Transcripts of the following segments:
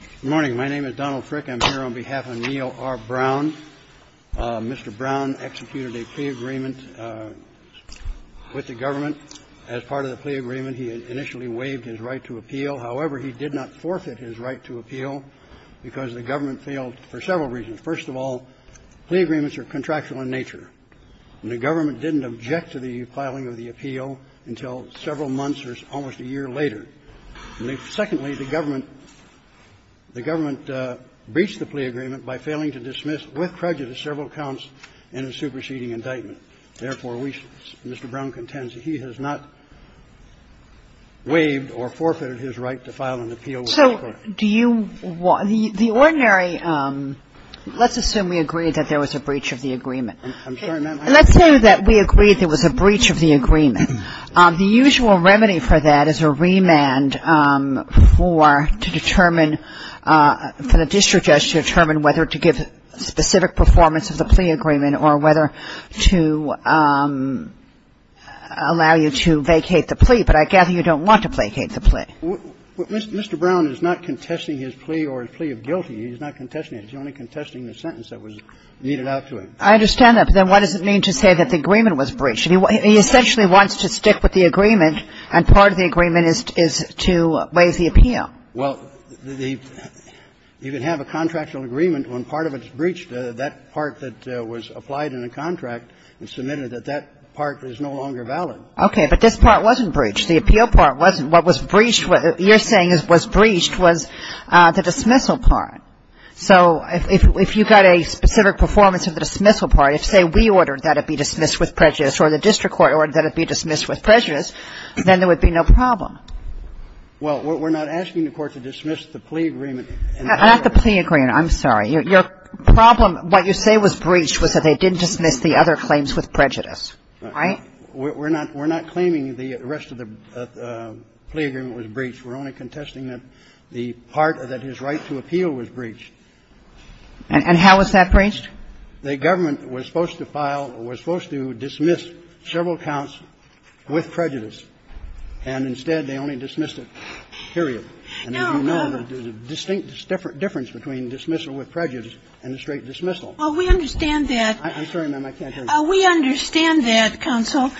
Good morning. My name is Donald Frick. I'm here on behalf of Neil R. Brown. Mr. Brown executed a plea agreement with the government as part of the plea agreement. He initially waived his right to appeal. However, he did not forfeit his right to appeal because the government failed for several reasons. First of all, plea agreements are contractual in nature, and the government didn't object to the filing of the appeal until several months or almost a year later. Secondly, the government breached the plea agreement by failing to dismiss, with prejudice, several counts in a superseding indictment. Therefore, Mr. Brown contends he has not waived or forfeited his right to file an appeal with the court. So do you – the ordinary – let's assume we agree that there was a breach of the agreement. I'm sorry, ma'am. Let's say that we agree there was a breach of the agreement. The usual remedy for that is a remand for – to determine – for the district judge to determine whether to give specific performance of the plea agreement or whether to allow you to vacate the plea. But I gather you don't want to vacate the plea. Mr. Brown is not contesting his plea or his plea of guilty. He's not contesting it. He's only contesting the sentence that was meted out to him. I understand that. But then what does it mean to say that the agreement was breached? He essentially wants to stick with the agreement, and part of the agreement is to waive the appeal. Well, the – you can have a contractual agreement when part of it is breached. That part that was applied in a contract and submitted, that that part is no longer valid. Okay. But this part wasn't breached. The appeal part wasn't. What was breached – what you're saying was breached was the dismissal part. So if you got a specific performance of the dismissal part, if, say, we ordered that it be dismissed with prejudice or the district court ordered that it be dismissed with prejudice, then there would be no problem. Well, we're not asking the Court to dismiss the plea agreement. Not the plea agreement. I'm sorry. Your problem – what you say was breached was that they didn't dismiss the other claims with prejudice. Right? We're not – we're not claiming the rest of the plea agreement was breached. We're only contesting that the part that his right to appeal was breached. And how was that breached? The government was supposed to file – was supposed to dismiss several counts with prejudice, and instead they only dismissed it. Period. And as you know, there's a distinct difference between dismissal with prejudice and a straight dismissal. Well, we understand that. I'm sorry, ma'am. I can't hear you. We understand that, counsel.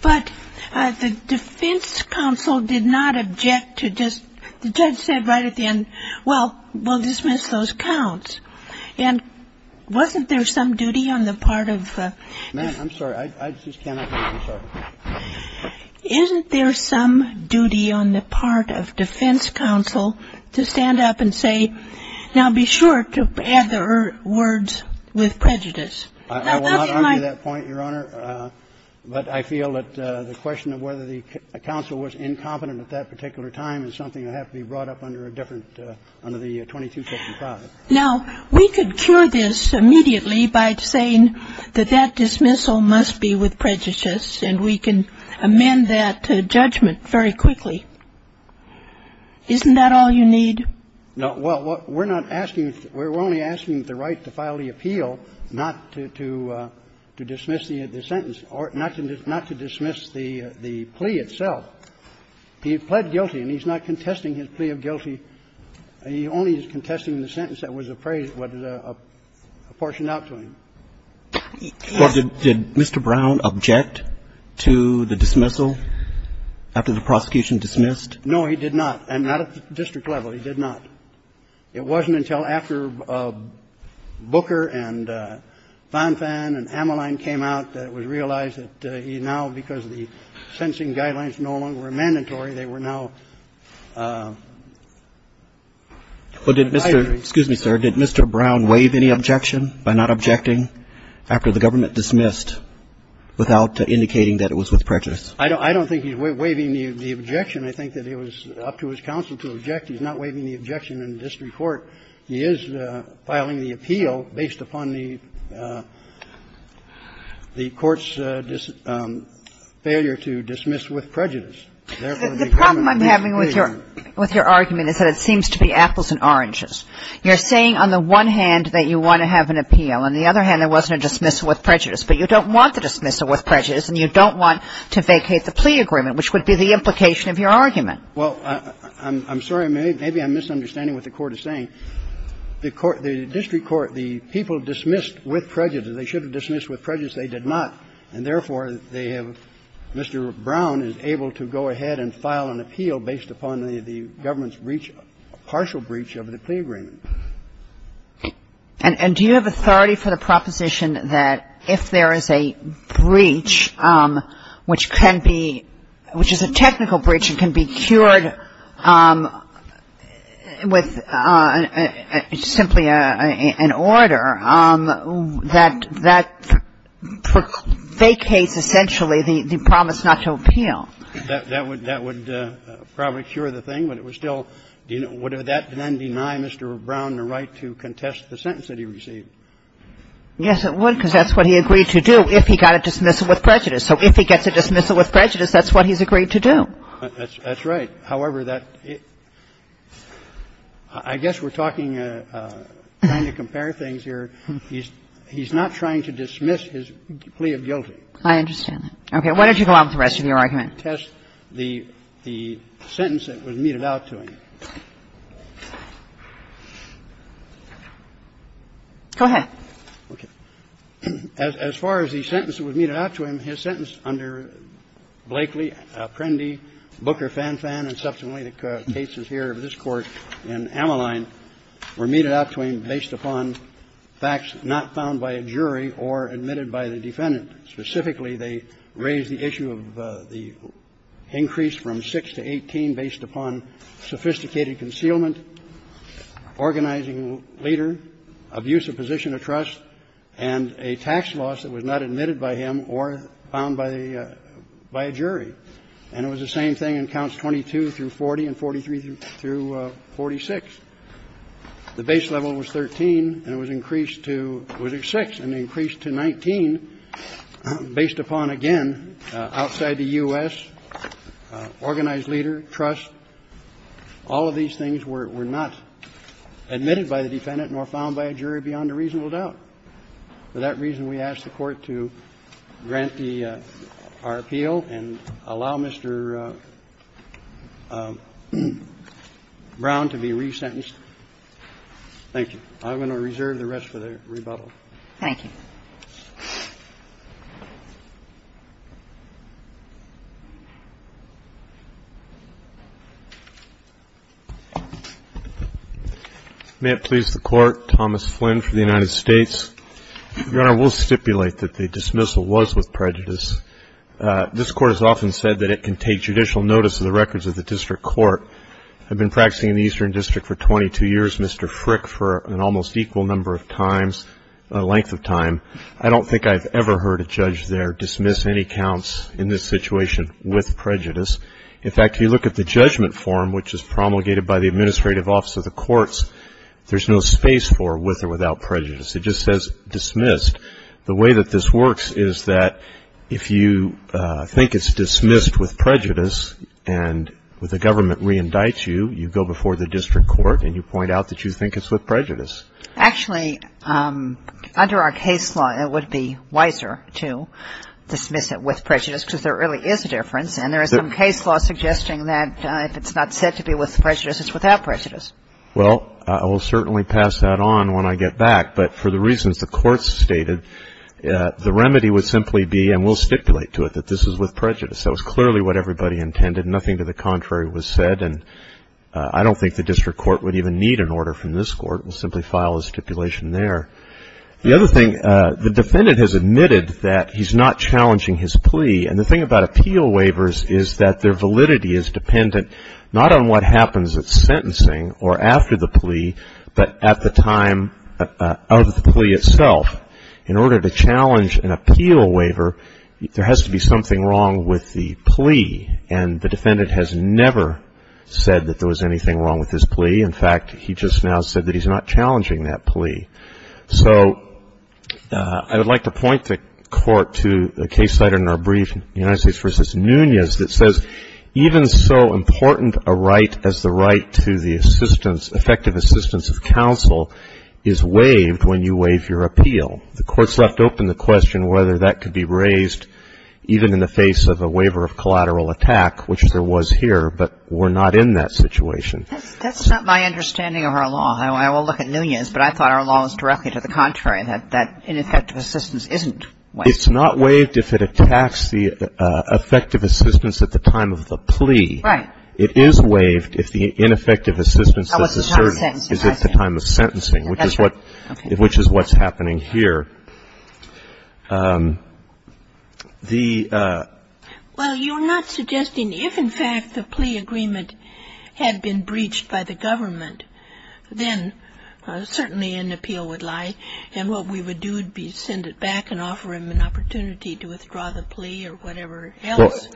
But the defense counsel did not object to just – the judge said right at the end, well, we'll dismiss those counts. And wasn't there some duty on the part of – Ma'am, I'm sorry. I just cannot hear you. I'm sorry. Isn't there some duty on the part of defense counsel to stand up and say, now, be sure to add the words with prejudice? I will not argue that point, Your Honor. But I feel that the question of whether the counsel was incompetent at that particular time is something that would have to be brought up under a different – under the 2255. Now, we could cure this immediately by saying that that dismissal must be with prejudice, and we can amend that judgment very quickly. Isn't that all you need? No. Well, we're not asking – we're only asking the right to file the appeal, not to dismiss the sentence, or not to dismiss the plea itself. He pled guilty, and he's not contesting his plea of guilty. He only is contesting the sentence that was appraised – that was apportioned out to him. Well, did Mr. Brown object to the dismissal after the prosecution dismissed? No, he did not. And not at the district level. He did not. It wasn't until after Booker and von Fahn and Ammaline came out that it was realized that he now, because the sentencing guidelines no longer were mandatory, they were now mandatory. Well, did Mr. – excuse me, sir – did Mr. Brown waive any objection by not objecting after the government dismissed without indicating that it was with prejudice? I don't think he's waiving the objection. I think that it was up to his counsel to object. He's not waiving the objection in the district court. He is filing the appeal based upon the court's failure to dismiss with prejudice. The problem I'm having with your argument is that it seems to be apples and oranges. You're saying on the one hand that you want to have an appeal. On the other hand, there wasn't a dismissal with prejudice. But you don't want the dismissal with prejudice, and you don't want to vacate the plea agreement, which would be the implication of your argument. Well, I'm sorry. Maybe I'm misunderstanding what the Court is saying. The court – the district court, the people dismissed with prejudice. They should have dismissed with prejudice. They did not. And therefore, they have – Mr. Brown is able to go ahead and file an appeal based upon the government's breach, partial breach of the plea agreement. And do you have authority for the proposition that if there is a breach which can be – which is a technical breach and can be cured with simply an order, that that vacates essentially the promise not to appeal? That would – that would probably cure the thing, but it would still – would that then deny Mr. Brown the right to contest the sentence that he received? Yes, it would, because that's what he agreed to do if he got a dismissal with prejudice. So if he gets a dismissal with prejudice, that's what he's agreed to do. That's right. However, that – I guess we're talking – trying to compare things here. He's not trying to dismiss his plea of guilty. I understand that. Okay. Why don't you go on with the rest of your argument? To contest the sentence that was meted out to him. Go ahead. Okay. As far as the sentence that was meted out to him, his sentence under Blakely, Apprendi, Booker, Fanfan, and subsequently the cases here of this Court in Ammaline were meted out to him based upon facts not found by a jury or admitted by the defendant. Specifically, they raised the issue of the increase from 6 to 18 based upon sophisticated agency concealment, organizing leader, abuse of position of trust, and a tax loss that was not admitted by him or found by a jury. And it was the same thing in counts 22 through 40 and 43 through 46. The base level was 13, and it was increased to – was it 6? And it increased to 19 based upon, again, outside the U.S., organized leader, trust, all of these things were not admitted by the defendant nor found by a jury beyond a reasonable doubt. For that reason, we ask the Court to grant the – our appeal and allow Mr. Brown to be resentenced. Thank you. I'm going to reserve the rest for the rebuttal. Thank you. May it please the Court, Thomas Flynn for the United States. Your Honor, we'll stipulate that the dismissal was with prejudice. This Court has often said that it can take judicial notice of the records of the district court. I've been practicing in the Eastern District for 22 years, Mr. Frick, for an almost equal number of times – length of time. I don't think I've ever heard a judge there dismiss any counts in this situation with prejudice. In fact, if you look at the judgment form, which is promulgated by the Administrative Office of the Courts, there's no space for with or without prejudice. It just says dismissed. The way that this works is that if you think it's dismissed with prejudice and the government re-indicts you, you go before the district court and you point out that you think it's with prejudice. Actually, under our case law, it would be wiser to dismiss it with prejudice because there really is a difference. And there is some case law suggesting that if it's not said to be with prejudice, it's without prejudice. Well, I will certainly pass that on when I get back. But for the reasons the Court stated, the remedy would simply be – and we'll stipulate to it that this is with prejudice. That was clearly what everybody intended. Nothing to the contrary was said. And I don't think the district court would even need an order from this court. We'll simply file a stipulation there. The other thing, the defendant has admitted that he's not challenging his plea. And the thing about appeal waivers is that their validity is dependent not on what happens at sentencing or after the plea, but at the time of the plea itself. In order to challenge an appeal waiver, there has to be something wrong with the plea. And the defendant has never said that there was anything wrong with his plea. In fact, he just now said that he's not challenging that plea. So I would like to point the Court to a case cited in our brief, United States v. Nunez, that says even so important a right as the right to the assistance, effective assistance of counsel, is waived when you waive your appeal. The Court's left open the question whether that could be raised even in the face of a legal attack, which there was here, but we're not in that situation. That's not my understanding of our law. I will look at Nunez, but I thought our law was directly to the contrary, that ineffective assistance isn't waived. It's not waived if it attacks the effective assistance at the time of the plea. Right. It is waived if the ineffective assistance is asserted at the time of sentencing, which is what's happening here. The ---- Well, you're not suggesting if, in fact, the plea agreement had been breached by the government, then certainly an appeal would lie, and what we would do would be send it back and offer him an opportunity to withdraw the plea or whatever else.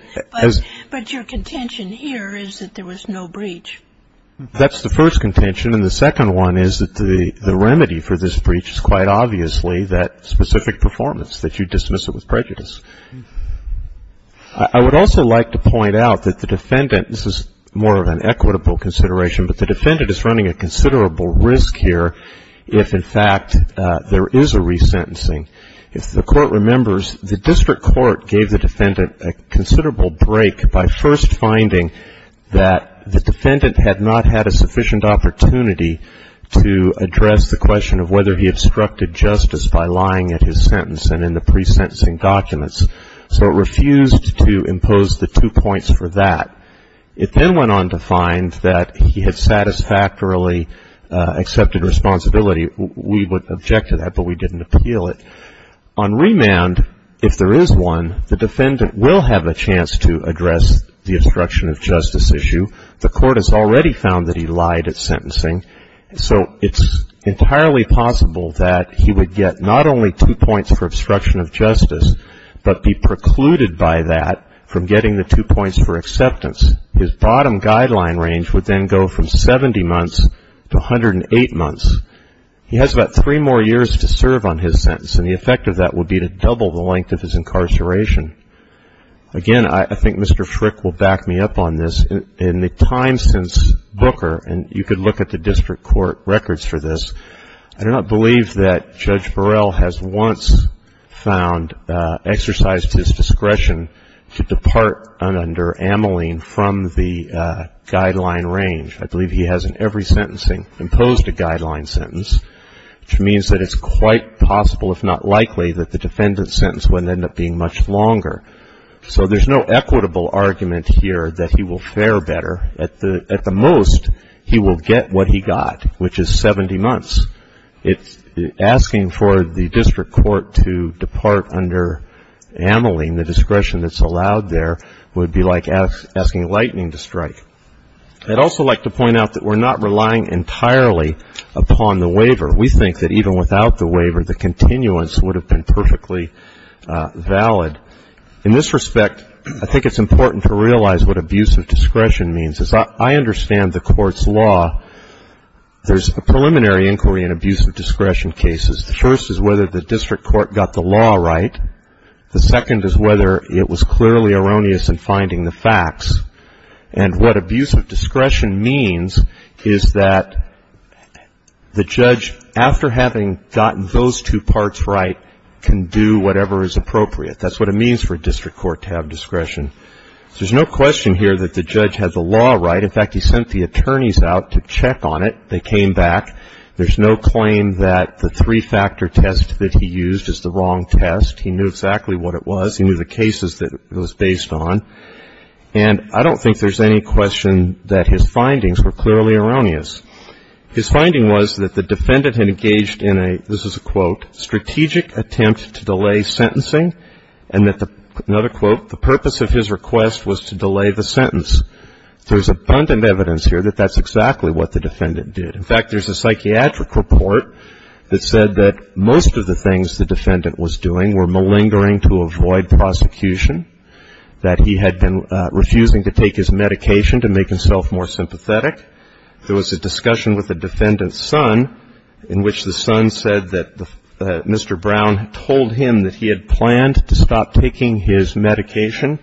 But your contention here is that there was no breach. That's the first contention, and the second one is that the remedy for this breach is quite obviously that specific performance, that you dismiss it with prejudice. I would also like to point out that the defendant ---- this is more of an equitable consideration, but the defendant is running a considerable risk here if, in fact, there is a resentencing. If the Court remembers, the district court gave the defendant a considerable break by first finding that the defendant had not had a sufficient opportunity to address the question of whether he obstructed justice by lying at his sentence and in the pre-sentencing documents. So it refused to impose the two points for that. It then went on to find that he had satisfactorily accepted responsibility. We would object to that, but we didn't appeal it. On remand, if there is one, the defendant will have a chance to address the obstruction of justice issue. The Court has already found that he lied at sentencing. So it's entirely possible that he would get not only two points for obstruction of justice, but be precluded by that from getting the two points for acceptance. His bottom guideline range would then go from 70 months to 108 months. He has about three more years to serve on his sentence, and the effect of that would be to double the length of his incarceration. Again, I think Mr. Frick will back me up on this. In the time since Booker, and you could look at the district court records for this, I do not believe that Judge Burrell has once found exercise to his discretion to depart under Ameline from the guideline range. I believe he has in every sentencing imposed a guideline sentence, which means that it's quite possible, if not likely, that the defendant's sentence would end up being much longer. So there's no equitable argument here that he will fare better. At the most, he will get what he got, which is 70 months. Asking for the district court to depart under Ameline, the discretion that's allowed there, would be like asking lightning to strike. I'd also like to point out that we're not relying entirely upon the waiver. We think that even without the waiver, the continuance would have been perfectly valid. In this respect, I think it's important to realize what abuse of discretion means. As I understand the court's law, there's a preliminary inquiry in abuse of discretion cases. The first is whether the district court got the law right. The second is whether it was clearly erroneous in finding the facts. And what abuse of discretion means is that the judge, after having gotten those two parts right, can do whatever is appropriate. That's what it means for a district court to have discretion. There's no question here that the judge had the law right. In fact, he sent the attorneys out to check on it. They came back. There's no claim that the three-factor test that he used is the wrong test. He knew exactly what it was. He knew the cases that it was based on. And I don't think there's any question that his findings were clearly erroneous. His finding was that the defendant had engaged in a, this is a quote, strategic attempt to delay sentencing, and that the, another quote, the purpose of his request was to delay the sentence. There's abundant evidence here that that's exactly what the defendant did. In fact, there's a psychiatric report that said that most of the things the defendant was doing were malingering to avoid prosecution, that he had been refusing to take his medication to make himself more sympathetic. There was a discussion with the defendant's son in which the son said that Mr. Brown had told him that he had planned to stop taking his medication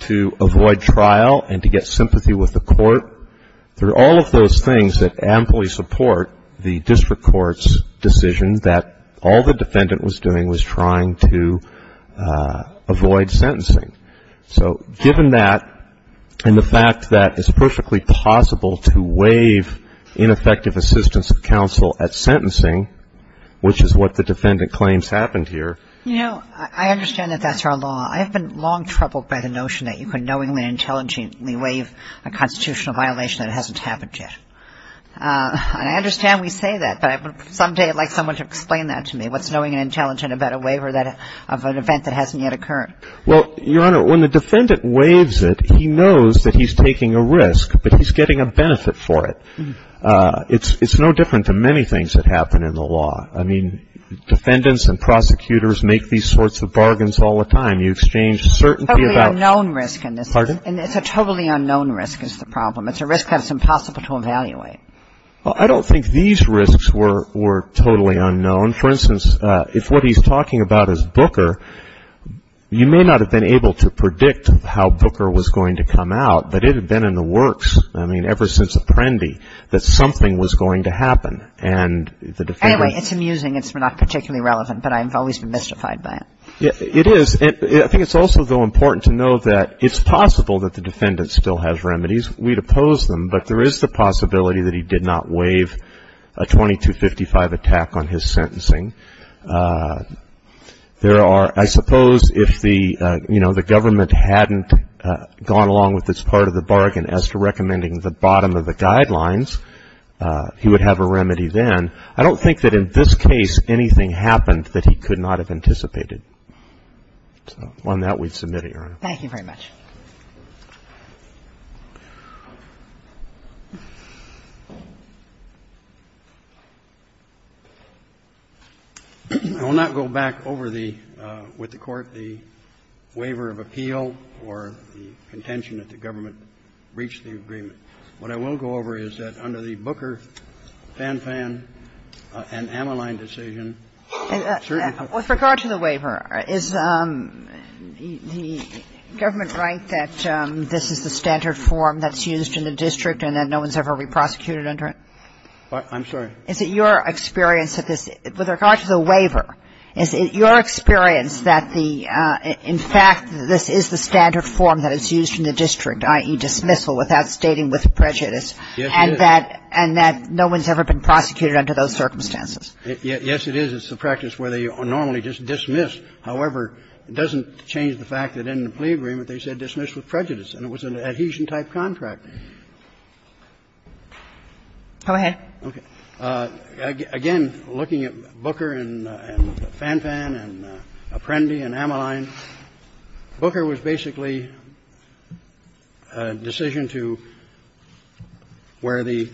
to avoid trial and to get sympathy with the court. There are all of those things that amply support the district court's decision that all the defendant was doing was trying to avoid sentencing. So given that, and the fact that it's perfectly possible to waive ineffective assistance of counsel at sentencing, which is what the defendant claims happened here. You know, I understand that that's our law. I have been long troubled by the notion that you can knowingly and intelligently waive a constitutional violation that hasn't happened yet. And I understand we say that, but someday I'd like someone to explain that to me. What's knowing and intelligent about a waiver of an event that hasn't yet occurred? Well, Your Honor, when the defendant waives it, he knows that he's taking a risk, but he's getting a benefit for it. It's no different than many things that happen in the law. I mean, defendants and prosecutors make these sorts of bargains all the time. You exchange certainty about ‑‑ Totally unknown risk in this. Pardon? It's a totally unknown risk is the problem. It's a risk that's impossible to evaluate. Well, I don't think these risks were totally unknown. For instance, if what he's talking about is Booker, you may not have been able to predict how Booker was going to come out, but it had been in the works, I mean, ever since Apprendi, that something was going to happen. And the defendant ‑‑ Anyway, it's amusing. It's not particularly relevant, but I've always been mystified by it. It is. I think it's also, though, important to know that it's possible that the defendant still has remedies. We'd oppose them, but there is the possibility that he did not waive a 2255 attack on his sentencing. There are ‑‑ I suppose if the, you know, the government hadn't gone along with this part of the bargain as to recommending the bottom of the guidelines, he would have a remedy then. I don't think that in this case anything happened that he could not have anticipated. Thank you very much. I will not go back over the ‑‑ with the Court the waiver of appeal or the contention that the government breached the agreement. What I will go over is that under the Booker, Fanfan, and Amaline decision, certain With regard to the waiver, is the government right that this is the standard form that's used in the district and that no one's ever been prosecuted under it? I'm sorry. Is it your experience that this ‑‑ with regard to the waiver, is it your experience that the ‑‑ in fact, this is the standard form that is used in the district, i.e. dismissal without stating with prejudice, and that no one's ever been prosecuted under those circumstances? Yes, it is. It's the practice where they normally just dismiss. However, it doesn't change the fact that in the plea agreement, they said dismiss with prejudice, and it was an adhesion-type contract. Go ahead. Okay. Again, looking at Booker and Fanfan and Apprendi and Amaline, Booker was basically a decision to ‑‑ where the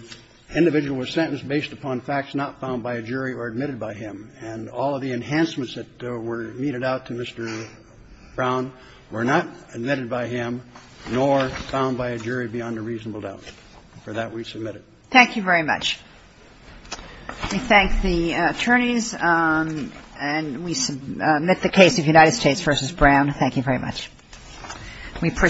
individual was sentenced based upon facts not found by a jury or admitted by him, and all of the enhancements that were meted out to Mr. Brown were not admitted by him nor found by a jury beyond a reasonable doubt. For that, we submit it. Thank you very much. We thank the attorneys, and we submit the case of United States v. Brown. Thank you very much.